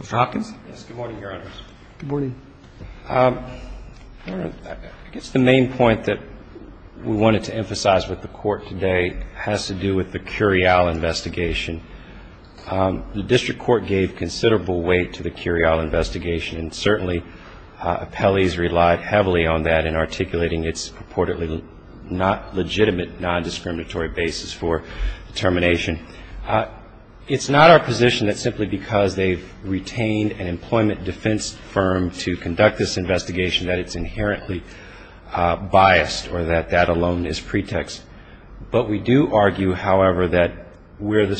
Mr. Hopkins? Yes, good morning, Your Honors. Good morning. I guess the main point that we wanted to emphasize with the Court today has to do with the Curiel investigation. The District Court gave considerable weight to the Curiel investigation, and certainly appellees relied heavily on that in articulating its purportedly non-legitimate, non-discriminatory basis for determination. It's not our position that simply because they've retained an employment defense firm to conduct this investigation that it's inherently biased or that that alone is pretext. But we do argue, however, that where the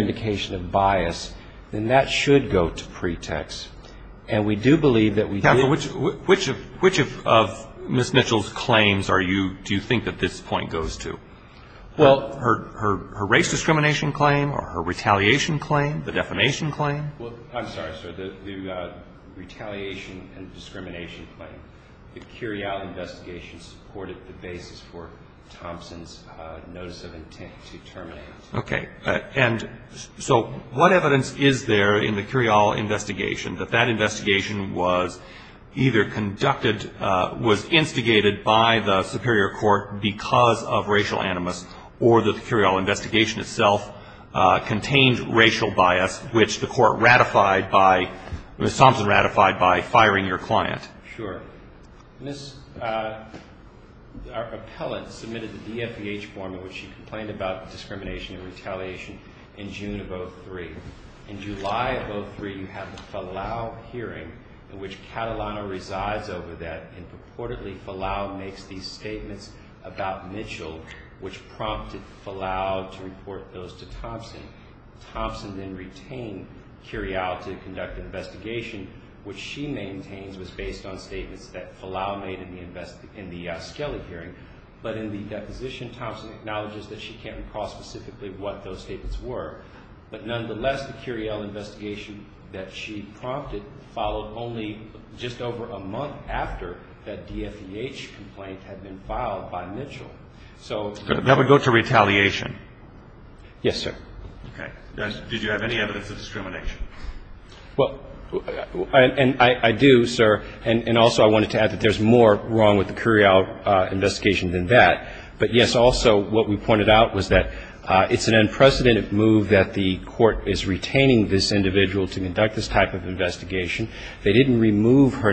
indication of bias, then that should go to pretext. And we do believe that we do. Which of Ms. Mitchell's claims are you do you think that this point goes to? Well, her race discrimination claim or her retaliation claim, the defamation claim? Well, I'm sorry, sir, the retaliation and discrimination claim. The Curiel investigation supported the basis for Thompson's notice of intent to terminate. Okay. And so what evidence is there in the Curiel investigation that that investigation was either conducted, was instigated by the superior court because of racial animus or the Curiel investigation itself contained racial bias, which the court ratified by, Ms. Thompson in retaliation in June of 03. In July of 03, you have the Falau hearing in which Catalano resides over that and purportedly Falau makes these statements about Mitchell, which prompted Falau to report those to Thompson. Thompson then retained Curiel to conduct an investigation, which she maintains was based on statements that Falau made in the Skelly hearing. But in the deposition, Thompson acknowledges that she can't recall specifically what those statements were. But nonetheless, the Curiel investigation that she prompted followed only just over a month after that DFEH complaint had been filed by Mitchell. So that would go to retaliation. Yes, sir. Okay. Did you have any evidence of discrimination? Well, and I do, sir. And also I wanted to add that there's more wrong with the Curiel investigation than that. But, yes, also what we pointed out was that it's an unprecedented move that the court is retaining this individual to conduct this type of investigation. They didn't remove her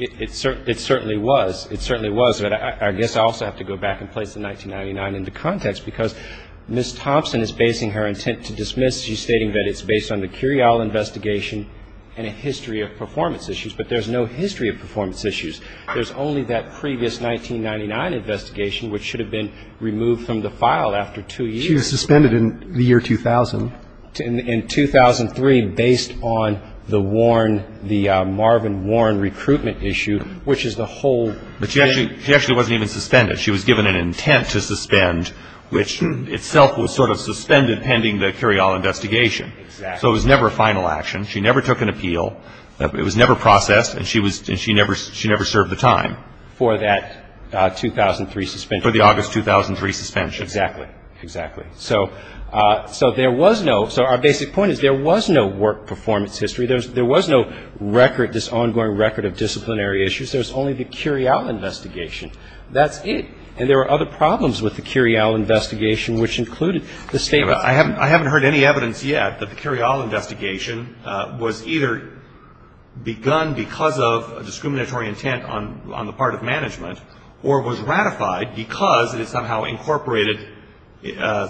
It certainly was. It certainly was. But I guess I also have to go back and place the 1999 into context because Ms. Thompson is basing her intent to dismiss. She's stating that it's based on the Curiel investigation and a history of performance issues. But there's no history of performance issues. There's only that previous 1999 investigation, which should have been removed from the file after two years. She was suspended in the recruitment issue, which is the whole thing. But she actually wasn't even suspended. She was given an intent to suspend, which itself was sort of suspended pending the Curiel investigation. Exactly. So it was never a final action. She never took an appeal. It was never processed. And she never served the time. For that 2003 suspension. For the August 2003 suspension. Exactly. Exactly. So there was no, so our basic point is there was no work performance history. There was no record, this ongoing record of disciplinary issues. There was only the Curiel investigation. That's it. And there were other problems with the Curiel investigation, which included the statement. I haven't heard any evidence yet that the Curiel investigation was either begun because of a discriminatory intent on the part of management or was ratified because it somehow incorporated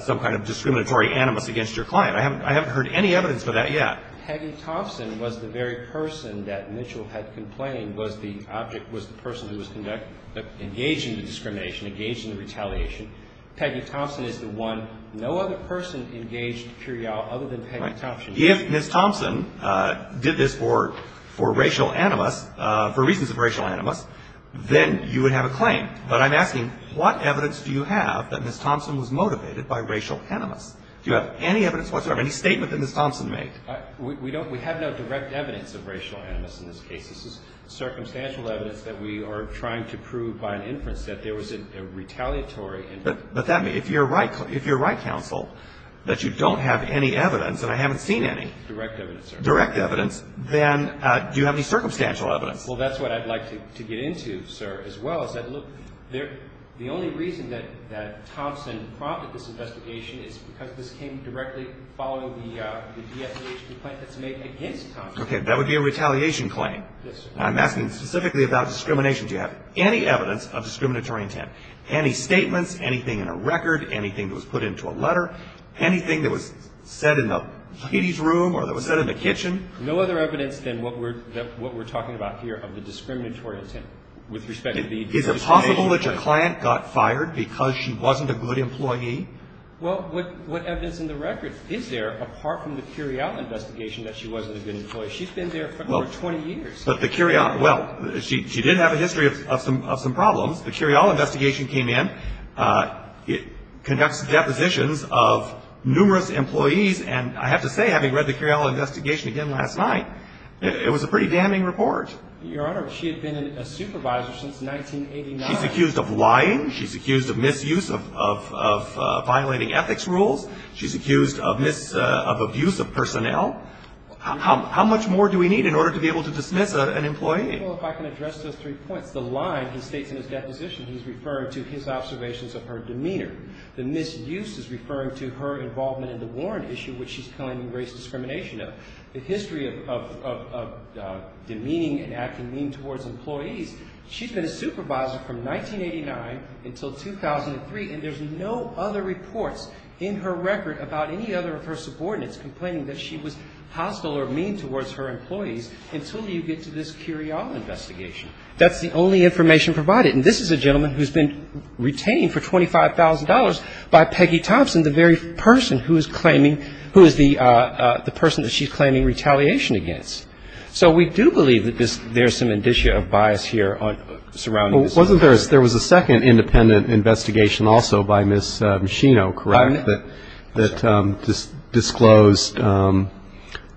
some kind of discriminatory animus against your client. I haven't heard any evidence for that yet. Peggy Thompson was the very person that Mitchell had complained was the object, was the person who was engaged in the discrimination, engaged in the retaliation. Peggy Thompson is the one, no other person engaged Curiel other than Peggy Thompson. If Ms. Thompson did this for racial animus, for reasons of racial animus, then you would have a claim. But I'm asking what evidence do you have that Ms. Thompson was motivated by racial animus? Do you have any evidence whatsoever, any statement that Ms. Thompson made? We don't, we have no direct evidence of racial animus in this case. This is circumstantial evidence that we are trying to prove by an inference that there was a retaliatory intent. But that may, if you're right, if you're right, counsel, that you don't have any evidence, and I haven't seen any. Direct evidence, sir. Direct evidence. Then do you have any circumstantial evidence? Well, that's what I'd like to get into, sir, as well, is that look, the only reason that Thompson prompted this investigation is because this came directly following the defamation complaint that's made against Thompson. Okay, that would be a retaliation claim. Yes, sir. I'm asking specifically about discrimination. Do you have any evidence of discriminatory intent? Any statements, anything in a record, anything that was put into a letter, anything that was said in the ladies' room or that was said in the kitchen? No other evidence than what we're talking about here of the discriminatory intent with respect to the defamation claim. Is it possible that your client got fired because she wasn't a good employee? Well, what evidence in the record is there, apart from the Curiel investigation, that she wasn't a good employee? She's been there for over 20 years. But the Curiel, well, she did have a history of some problems. The Curiel investigation came in. Conducts deposition of numerous employees, and I have to say, having read the Curiel investigation again last night, it was a pretty damning report. Your Honor, she had been a supervisor since 1989. She's accused of lying. She's accused of misuse of violating ethics rules. She's accused of abuse of personnel. How much more do we need in order to be able to dismiss an employee? Well, if I can address those three points, the line he states in his report is that she's been a supervisor from 1989 until 2003, and there's no other reports in her record about any other of her subordinates complaining that she was hostile or mean towards her employees until you get to this Curiel investigation. That's the only information provided. And this is a gentleman who's been retained for 25 years. He's been a supervisor from 1989 until 2003, and there's no other by Peggy Thompson, the very person who is claiming, who is the person that she's claiming retaliation against. So we do believe that there's some indicia of bias here surrounding this. Well, wasn't there, there was a second independent investigation also by Ms. Shino, correct, that disclosed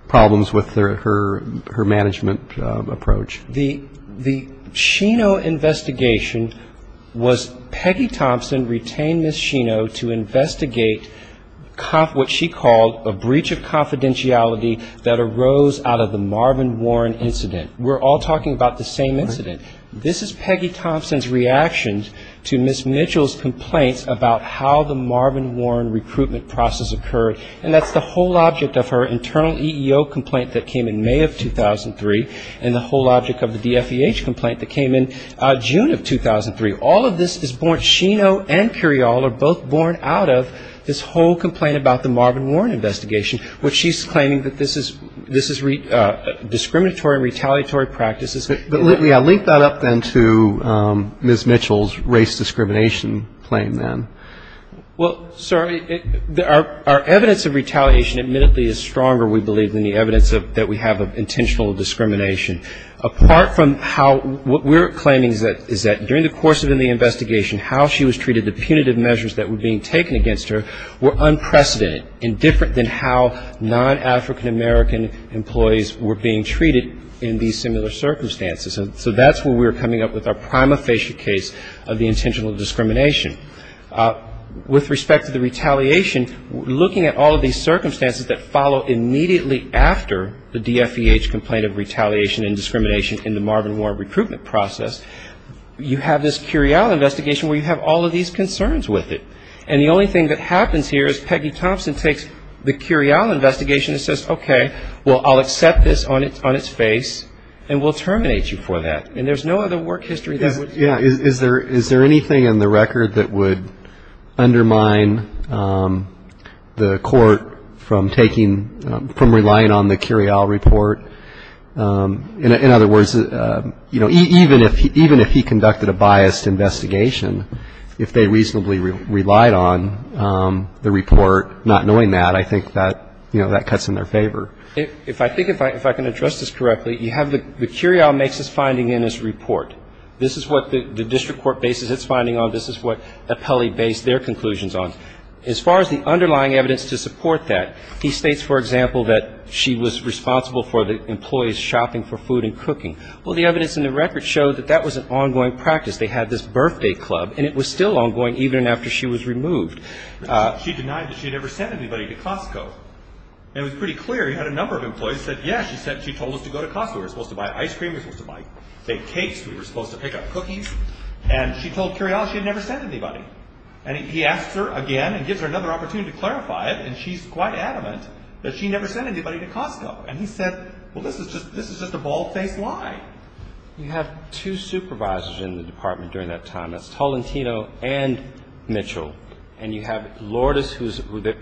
problems with her management approach? The Shino investigation was Peggy Thompson retained Ms. Shino to investigate what she called a breach of confidentiality that arose out of the Marvin Warren incident. We're all talking about the same incident. This is Peggy Thompson's reaction to Ms. Mitchell's complaints about how the Marvin Warren recruitment process occurred, and that's the whole object of her internal EEO complaint that came in May of 2003, and the whole object of the DFEH complaint that came in June of 2003. All of this is born, Shino and Curiel are both born out of this whole complaint about the Marvin Warren investigation, which she's claiming that this is discriminatory and retaliatory practices. But, yeah, link that up then to Ms. Mitchell's race discrimination claim then. Well, sir, our evidence of retaliation admittedly is stronger, we believe, than the evidence that we have of intentional discrimination apart from how what we're claiming is that during the course of the investigation, how she was treated, the punitive measures that were being taken against her were unprecedented and different than how non-African American employees were being treated in these similar circumstances. So that's where we're coming up with our prima facie case of the intentional discrimination. With respect to the retaliation, looking at all of these circumstances that follow immediately after the DFEH complaint of retaliation and discrimination in the Marvin Warren recruitment process, you have this Curiel investigation where you have all of these concerns with it. And the only thing that happens here is Peggy Thompson takes the Curiel investigation and says, okay, well, I'll accept this on its face, and we'll terminate you for that. And there's no other work history that would do that. Is there anything in the record that would undermine the court from taking, from relying on the Curiel report? In other words, you know, even if he conducted a biased investigation, if they reasonably relied on the report not knowing that, I think that, you know, that cuts in their favor. If I think if I can address this correctly, you have the Curiel makes its finding in its report. This is what the district court bases its finding on. This is what Apelli based their conclusions on. As far as the underlying evidence to support that, he states, for example, that she was responsible for the employees' shopping for food and cooking. Well, the evidence in the record showed that that was an ongoing practice. They had this birthday club, and it was still ongoing even after she was removed. She denied that she had ever sent anybody to Costco. And it was pretty clear she had a number of employees who said, yes, she told us to go to Costco. We were supposed to buy ice cream. We were supposed to buy fake cakes. We were supposed to pick up cookies. And she told Curiel she had never sent anybody. And he asks her again and gives her another opportunity to clarify it, and she's quite adamant that she never sent anybody to Costco. And he said, well, this is just a bald-faced lie. You have two supervisors in the department during that time. That's Tolentino and Mitchell. And you have Lourdes, who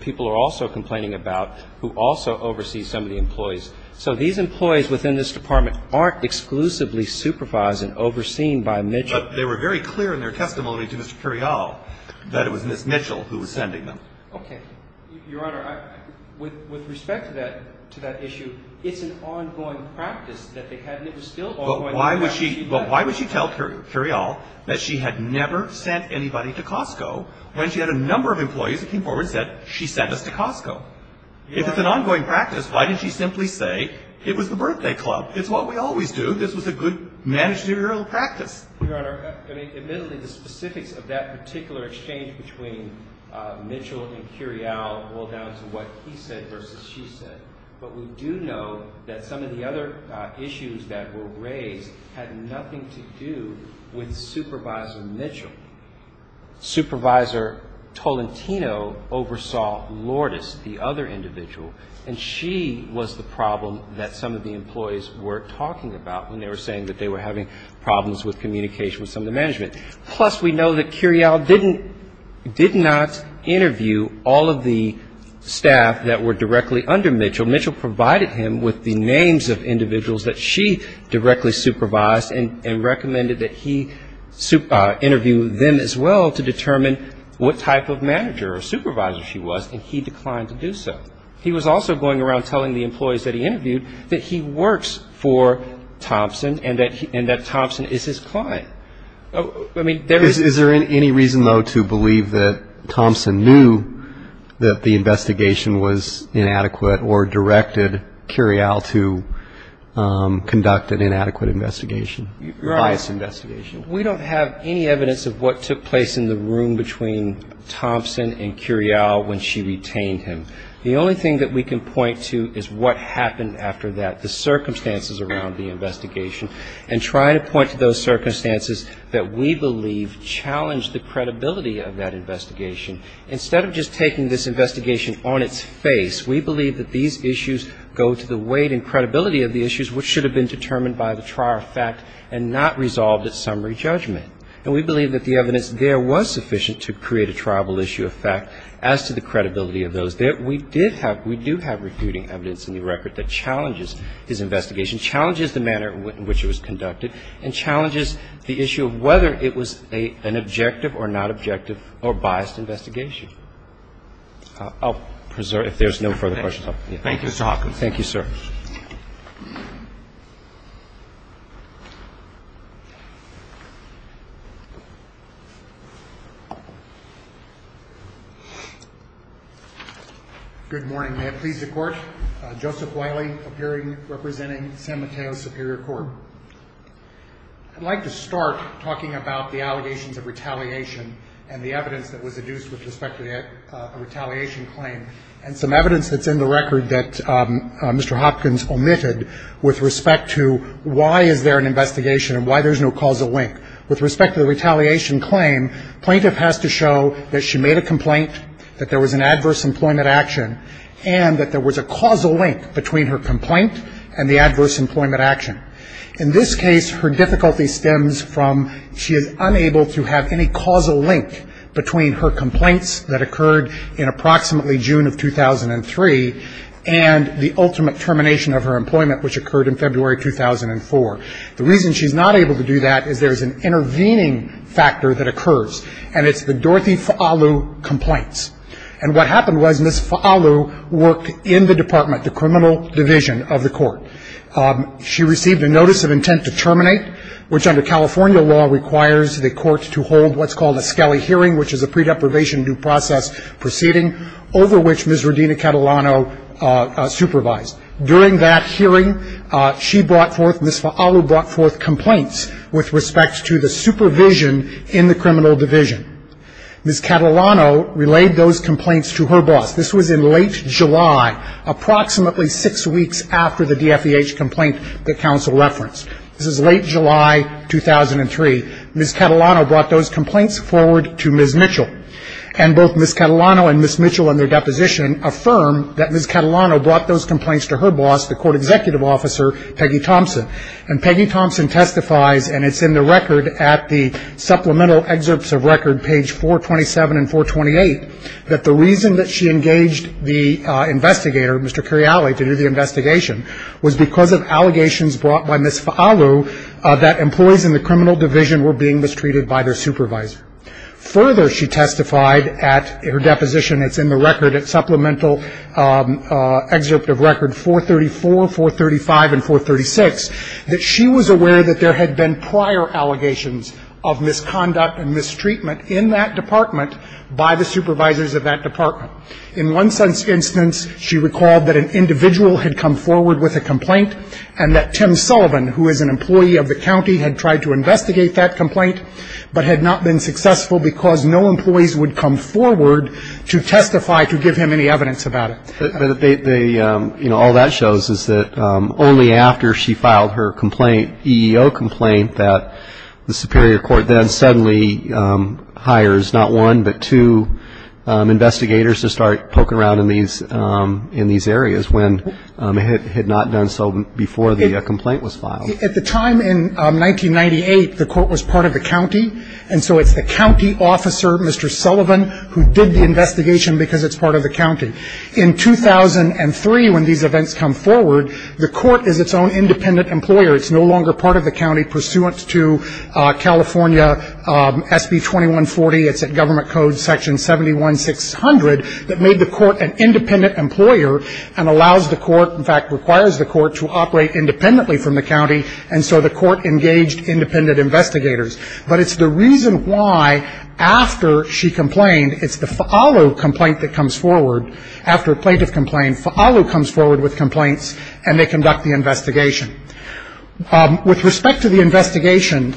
people are also complaining about, who also oversees some of the employees. So these employees within this department aren't exclusively supervised and overseen by Mitchell. But they were very clear in their testimony to Mr. Curiel that it was Ms. Mitchell who was sending them. Okay. Your Honor, with respect to that issue, it's an ongoing practice that they had, and it was still ongoing. But why would she tell Curiel that she had never sent anybody to Costco when she had a number of employees that came forward and said, she sent us to Costco? If it's an ongoing practice, why did she simply say it was the birthday club? It's what we always do. This was a good managerial practice. Your Honor, I mean, admittedly, the specifics of that particular exchange between Mitchell and Curiel boil down to what he said versus she said. But we do know that some of the other issues that were raised had nothing to do with Supervisor Mitchell. Supervisor Tolentino oversaw Lourdes, the other individual, and she was the problem that some of the employees were talking about when they were saying that they were having problems with communication with some of the management. Plus, we know that Curiel did not interview all of the staff that were directly under Mitchell. Mitchell provided him with the names of individuals that she directly supervised and recommended that he interview them as well to determine what type of manager or supervisor she was, and he declined to do so. He was also going around telling the employees that he interviewed that he works for Thompson and that Thompson is his client. Is there any reason, though, to believe that Thompson knew that the investigation was inadequate or directed Curiel to conduct an inadequate investigation? Your Honor, we don't have any evidence of what took place in the room between Thompson and Curiel when she retained him. The only thing that we can point to is what happened after that, the circumstances around the investigation, and try to point to those circumstances that we believe challenged the credibility of that investigation. Instead of just taking this investigation on its face, we believe that these issues go to the weight and credibility of the issues which should have been determined by the trial of fact and not resolved at summary judgment. And we believe that the evidence there was sufficient to create a triable issue of fact as to the credibility of those. We did have, we do have recruiting evidence in the record that challenges this investigation, challenges the manner in which it was conducted, and challenges the issue of whether it was an objective or not objective or biased investigation. I'll preserve it if there's no further questions. Thank you, Mr. Hawkins. Thank you, sir. Good morning. May it please the Court. Joseph Wiley appearing representing San Mateo Superior Court. I'd like to start talking about the allegations of retaliation and the evidence that was adduced with respect to the retaliation claim and some evidence that's in the record that Mr. Hopkins omitted with respect to why is there an investigation and why there's no causal link. With respect to the retaliation claim, plaintiff has to show that she made a complaint, that there was an adverse employment action, and that there was a causal link between her complaint and the adverse employment action. In this case, her difficulty stems from she is unable to have any causal link between her complaints that occurred in approximately June of 2003 and the ultimate termination of her employment, which occurred in February 2004. The reason she's not able to do that is there's an intervening factor that occurs, and it's the Dorothy Fa'alu complaints. And what happened was Ms. Fa'alu worked in the department, the criminal division of the court. She received a notice of intent to terminate, which under California law requires the court to hold what's called a Scali hearing, which is a pre-deprivation due process proceeding over which Ms. Rodina Catalano supervised. During that hearing, she brought forth, Ms. Fa'alu brought forth complaints with respect to the supervision in the criminal division. Ms. Catalano relayed those complaints to her boss. This was in late July, approximately six weeks after the DFEH complaint that counsel referenced. This is late July 2003. Ms. Catalano brought those complaints forward to Ms. Mitchell. And both Ms. Catalano and Ms. Mitchell in their deposition affirm that Ms. Catalano brought those complaints to her boss, the court executive officer, Peggy Thompson. And Peggy Thompson testifies, and it's in the record at the supplemental excerpts of record, page 427 and 428, that the reason that she engaged the investigator, Mr. Curiali, to do the investigation, was because of allegations brought by Ms. Fa'alu that employees in the criminal division were being mistreated by their supervisor. Further, she testified at her deposition, it's in the record, at supplemental excerpt of record 434, 435, and 436, that she was aware that there had been prior allegations of misconduct and mistreatment in that department by the supervisors of that department. In one instance, she recalled that an individual had come forward with a complaint and that Tim Sullivan, who is an employee of the county, had tried to investigate that complaint but had not been successful because no employees would come forward to testify to give him any evidence about it. But they, you know, all that shows is that only after she filed her complaint, EEO complaint, that the superior court then suddenly hires not one but two investigators to start poking around in these areas when it had not done so before the complaint was filed. At the time in 1998, the court was part of the county. And so it's the county officer, Mr. Sullivan, who did the investigation because it's part of the county. In 2003, when these events come forward, the court is its own independent employer. It's no longer part of the county pursuant to California SB 2140. It's at Government Code Section 71600 that made the court an independent employer and allows the court, in fact, requires the court to operate independently from the county. And so the court engaged independent investigators. But it's the reason why after she complained, it's the Fa'alu complaint that comes forward. After a plaintiff complained, Fa'alu comes forward with complaints, and they conduct the investigation. With respect to the investigation,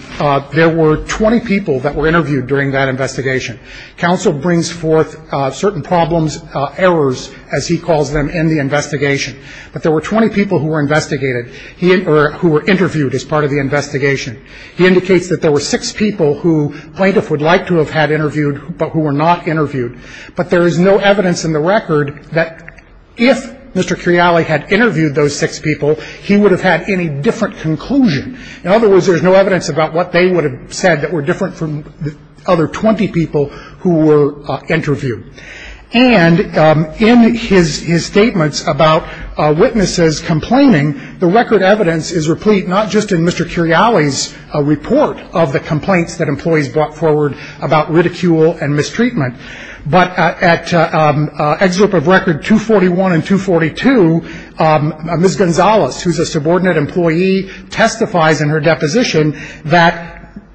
there were 20 people that were interviewed during that investigation. Counsel brings forth certain problems, errors, as he calls them, in the investigation. But there were 20 people who were investigated or who were interviewed as part of the investigation. He indicates that there were six people who plaintiff would like to have had interviewed but who were not interviewed. But there is no evidence in the record that if Mr. Criali had interviewed those six people, he would have had any different conclusion. In other words, there's no evidence about what they would have said that were different from the other 20 people who were interviewed. And in his statements about witnesses complaining, the record evidence is replete not just in Mr. Criali's report of the complaints that employees brought forward about ridicule and mistreatment, but at excerpt of record 241 and 242, Ms. Gonzalez, who's a subordinate employee, testifies in her deposition that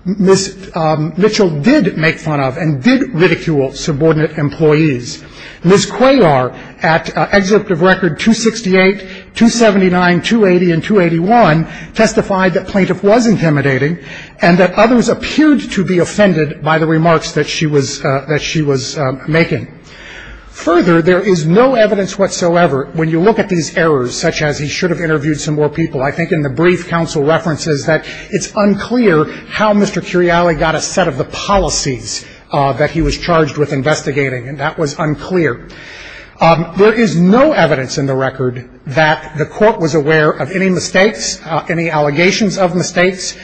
Ms. Mitchell did make fun of and did ridicule subordinate employees. Ms. Cuellar at excerpt of record 268, 279, 280, and 281 testified that plaintiff was intimidating and that others appeared to be offended by the remarks that she was making. Further, there is no evidence whatsoever when you look at these errors, such as he should have interviewed some more people. I think in the brief counsel references that it's unclear how Mr. Criali got a set of the policies that he was charged with investigating, and that was unclear. There is no evidence in the record that the court was aware of any mistakes, any allegations of mistakes.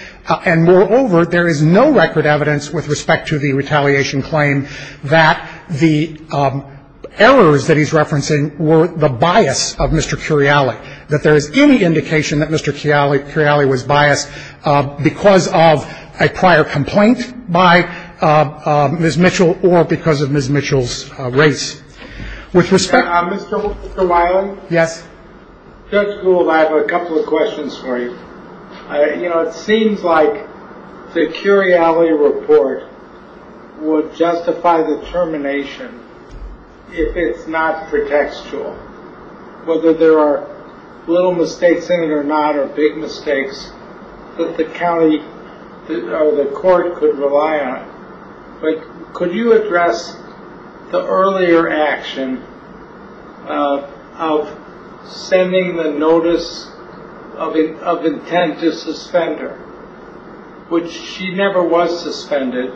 And moreover, there is no record evidence with respect to the retaliation claim that the errors that he's referencing were the bias of Mr. Criali, that there is any indication that Mr. Criali was biased because of a prior complaint by Ms. Mitchell or because of Ms. Mitchell's race. With respect to Mr. Wiley. Yes. Judge Gould, I have a couple of questions for you. You know, it seems like the Criali report would justify the termination if it's not pretextual, whether there are little mistakes in it or not, or big mistakes that the county or the court could rely on. But could you address the earlier action of sending the notice of intent to suspend her? Which she never was suspended.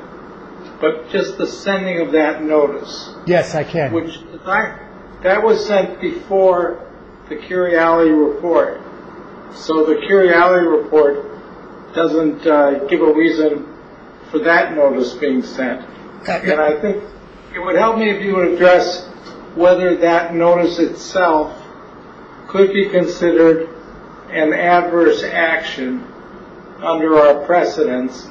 But just the sending of that notice. Yes, I can. That was sent before the Criali report. So the Criali report doesn't give a reason for that notice being sent. And I think it would help me if you would address whether that notice itself could be considered an adverse action under our precedence.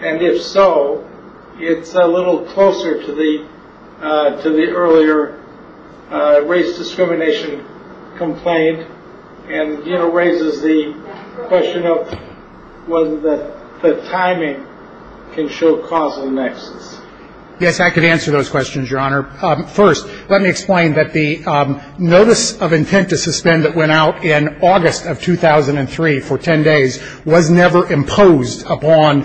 And if so, it's a little closer to the earlier race discrimination complaint and raises the question of whether the timing can show causal nexus. Yes, I could answer those questions, Your Honor. First, let me explain that the notice of intent to suspend that went out in August of 2003 for 10 days was never imposed upon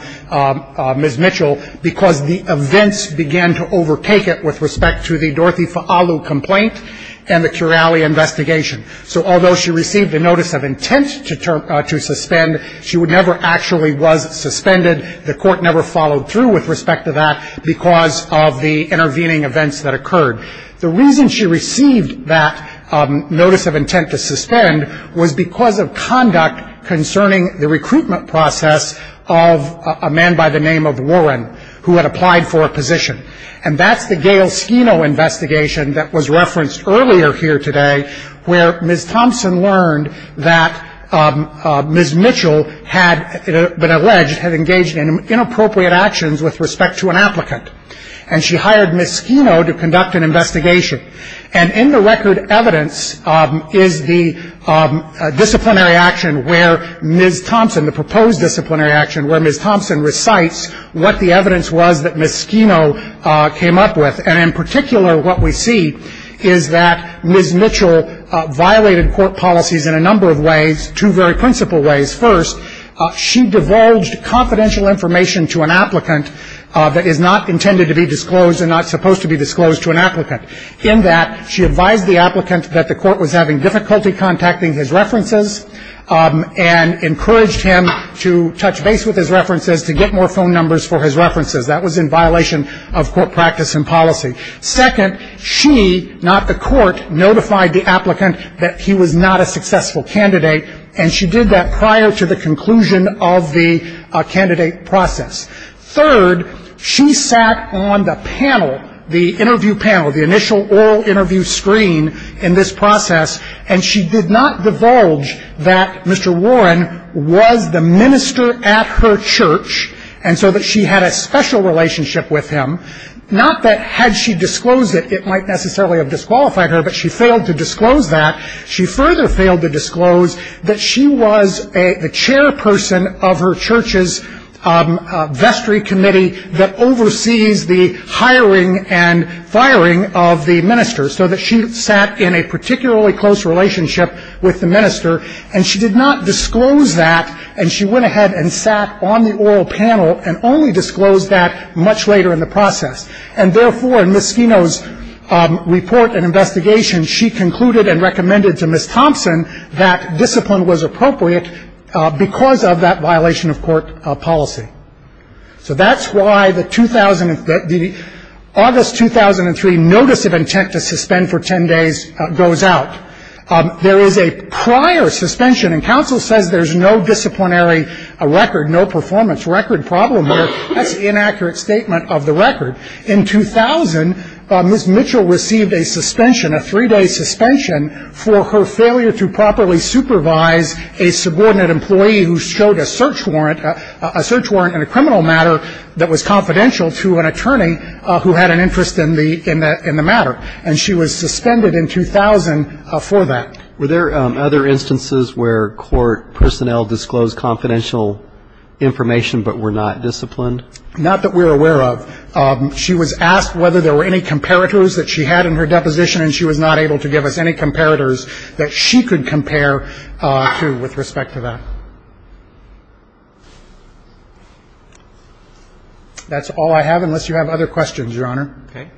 Ms. Mitchell because the events began to overtake it with respect to the Dorothy Fa'alu complaint and the Criali investigation. So although she received a notice of intent to suspend, she never actually was suspended. The court never followed through with respect to that because of the intervening events that occurred. The reason she received that notice of intent to suspend was because of conduct concerning the recruitment process of a man by the name of Warren, who had applied for a position. And that's the Gail Schino investigation that was referenced earlier here today, where Ms. Thompson learned that Ms. Mitchell had been alleged, had engaged in inappropriate actions with respect to an applicant. And she hired Ms. Schino to conduct an investigation. And in the record evidence is the disciplinary action where Ms. Thompson, the proposed disciplinary action, where Ms. Thompson recites what the evidence was that Ms. Schino came up with. And in particular, what we see is that Ms. Mitchell violated court policies in a number of ways, two very principal ways. First, she divulged confidential information to an applicant that is not intended to be disclosed and not supposed to be disclosed to an applicant. In that, she advised the applicant that the court was having difficulty contacting his references and encouraged him to touch base with his references to get more phone numbers for his references. That was in violation of court practice and policy. Second, she, not the court, notified the applicant that he was not a successful candidate, and she did that prior to the conclusion of the candidate process. Third, she sat on the panel, the interview panel, the initial oral interview screen in this process, and she did not divulge that Mr. Warren was the minister at her church and so that she had a special relationship with him. Not that had she disclosed it, it might necessarily have disqualified her, but she failed to disclose that. She further failed to disclose that she was the chairperson of her church's vestry committee that oversees the hiring and firing of the minister, so that she sat in a particularly close relationship with the minister. And she did not disclose that, and she went ahead and sat on the oral panel and only disclosed that much later in the process. And therefore, in Ms. Skeno's report and investigation, she concluded and recommended to Ms. Thompson that discipline was appropriate because of that violation of court policy. So that's why the August 2003 notice of intent to suspend for 10 days goes out. There is a prior suspension, and counsel says there's no disciplinary record, no performance record problem there. That's an inaccurate statement of the record. In 2000, Ms. Mitchell received a suspension, a three-day suspension, for her failure to properly supervise a subordinate employee who showed a search warrant, a search warrant in a criminal matter that was confidential to an attorney who had an interest in the matter. And she was suspended in 2000 for that. Were there other instances where court personnel disclosed confidential information but were not disciplined? Not that we're aware of. She was asked whether there were any comparators that she had in her deposition, and she was not able to give us any comparators that she could compare to with respect to that. That's all I have, unless you have other questions, Your Honor. Okay.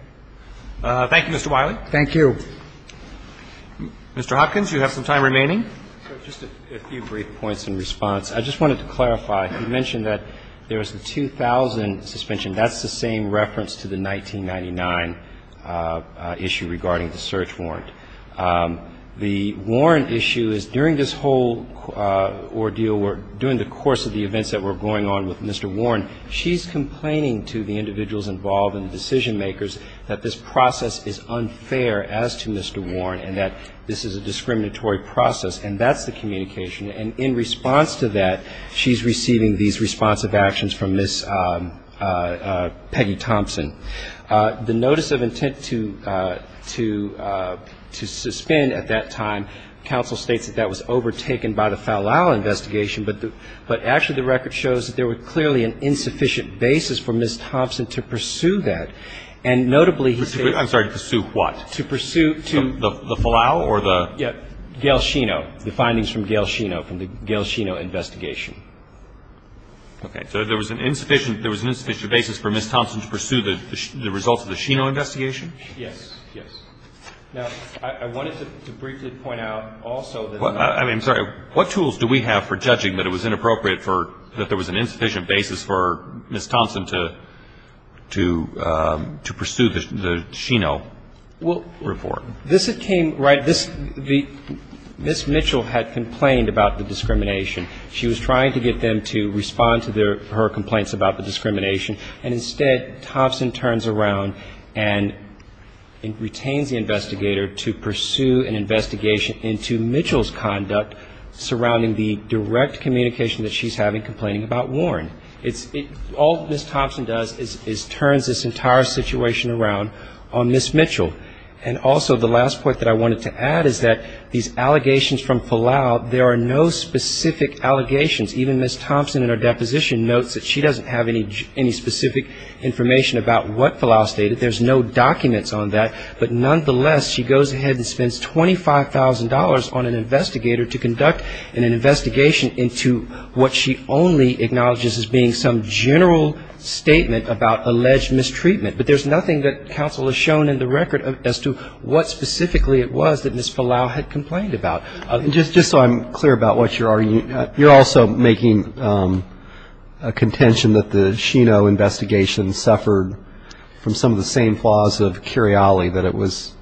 Thank you, Mr. Wiley. Thank you. Mr. Hopkins, you have some time remaining. Just a few brief points in response. I just wanted to clarify. You mentioned that there was the 2000 suspension. That's the same reference to the 1999 issue regarding the search warrant. The warrant issue is during this whole ordeal, during the course of the events that were going on with Mr. Warren, she's complaining to the individuals involved and the public that this is a discriminatory process, and that's the communication. And in response to that, she's receiving these responsive actions from Ms. Peggy Thompson. The notice of intent to suspend at that time, counsel states that that was overtaken by the Fowlall investigation, but actually the record shows that there were clearly an insufficient basis for Ms. Thompson to pursue that. And notably, he states to pursue what? To pursue the Fowlall or the? Gail Sheno. The findings from Gail Sheno, from the Gail Sheno investigation. Okay. So there was an insufficient basis for Ms. Thompson to pursue the results of the Sheno investigation? Yes. Yes. Now, I wanted to briefly point out also that. I'm sorry. What tools do we have for judging that it was inappropriate for, that there was an insufficient basis for Ms. Thompson to pursue the Sheno report? Well, this came right, this, the, Ms. Mitchell had complained about the discrimination. She was trying to get them to respond to their, her complaints about the discrimination. And instead, Thompson turns around and retains the investigator to pursue an investigation into Mitchell's conduct surrounding the direct communication that she's having complaining about Warren. All Ms. Thompson does is turns this entire situation around on Ms. Mitchell. And also, the last point that I wanted to add is that these allegations from Fowlall, there are no specific allegations. Even Ms. Thompson in her deposition notes that she doesn't have any specific information about what Fowlall stated. There's no documents on that. But nonetheless, she goes ahead and spends $25,000 on an investigator to conduct an investigation into what she only acknowledges as being some general statement about alleged mistreatment. But there's nothing that counsel has shown in the record as to what specifically it was that Ms. Fowlall had complained about. Just so I'm clear about what you're arguing, you're also making a contention that the Sheno investigation suffered from some of the same flaws of Curiali, that it was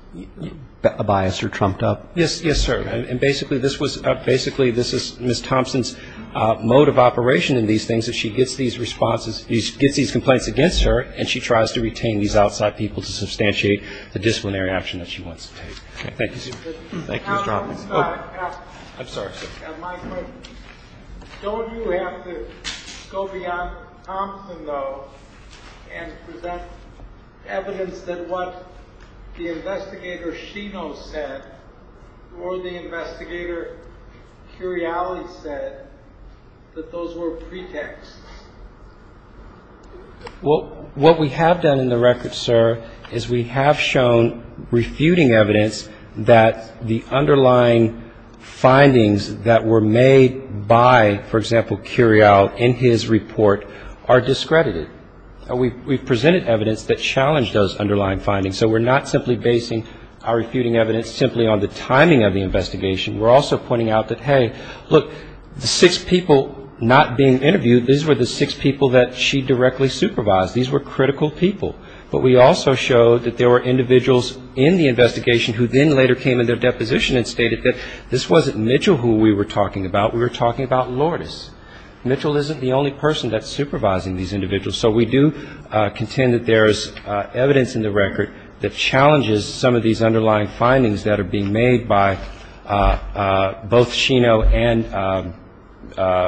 a bias or trumped up? Yes, yes, sir. And basically, this is Ms. Thompson's mode of operation in these things. If she gets these responses, gets these complaints against her, and she tries to retain these outside people to substantiate the disciplinary action that she wants to take. Thank you. Thank you, Mr. Hoffman. I'm sorry, sir. Don't you have to go beyond Thompson, though, and present evidence that what the investigator Sheno said or the investigator Curiali said that those were pretexts? Well, what we have done in the record, sir, is we have shown refuting evidence that the underlying findings that were made by, for example, Curiali in his report are discredited. We've presented evidence that challenged those underlying findings. So we're not simply basing our refuting evidence simply on the timing of the investigation. We're also pointing out that, hey, look, the six people not being interviewed, these were the six people that she directly supervised. These were critical people. But we also showed that there were individuals in the investigation who then later came in their deposition and stated that this wasn't Mitchell who we were talking about. We were talking about Lourdes. Mitchell isn't the only person that's supervising these individuals. So we do contend that there is evidence in the record that challenges some of these underlying findings that are being made by both Sheno and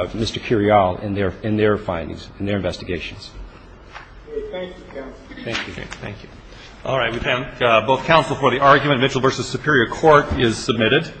Mr. Curiali in their findings, in their investigations. Thank you, counsel. Thank you. All right. We thank both counsel for the argument. Mitchell v. Superior Court is submitted.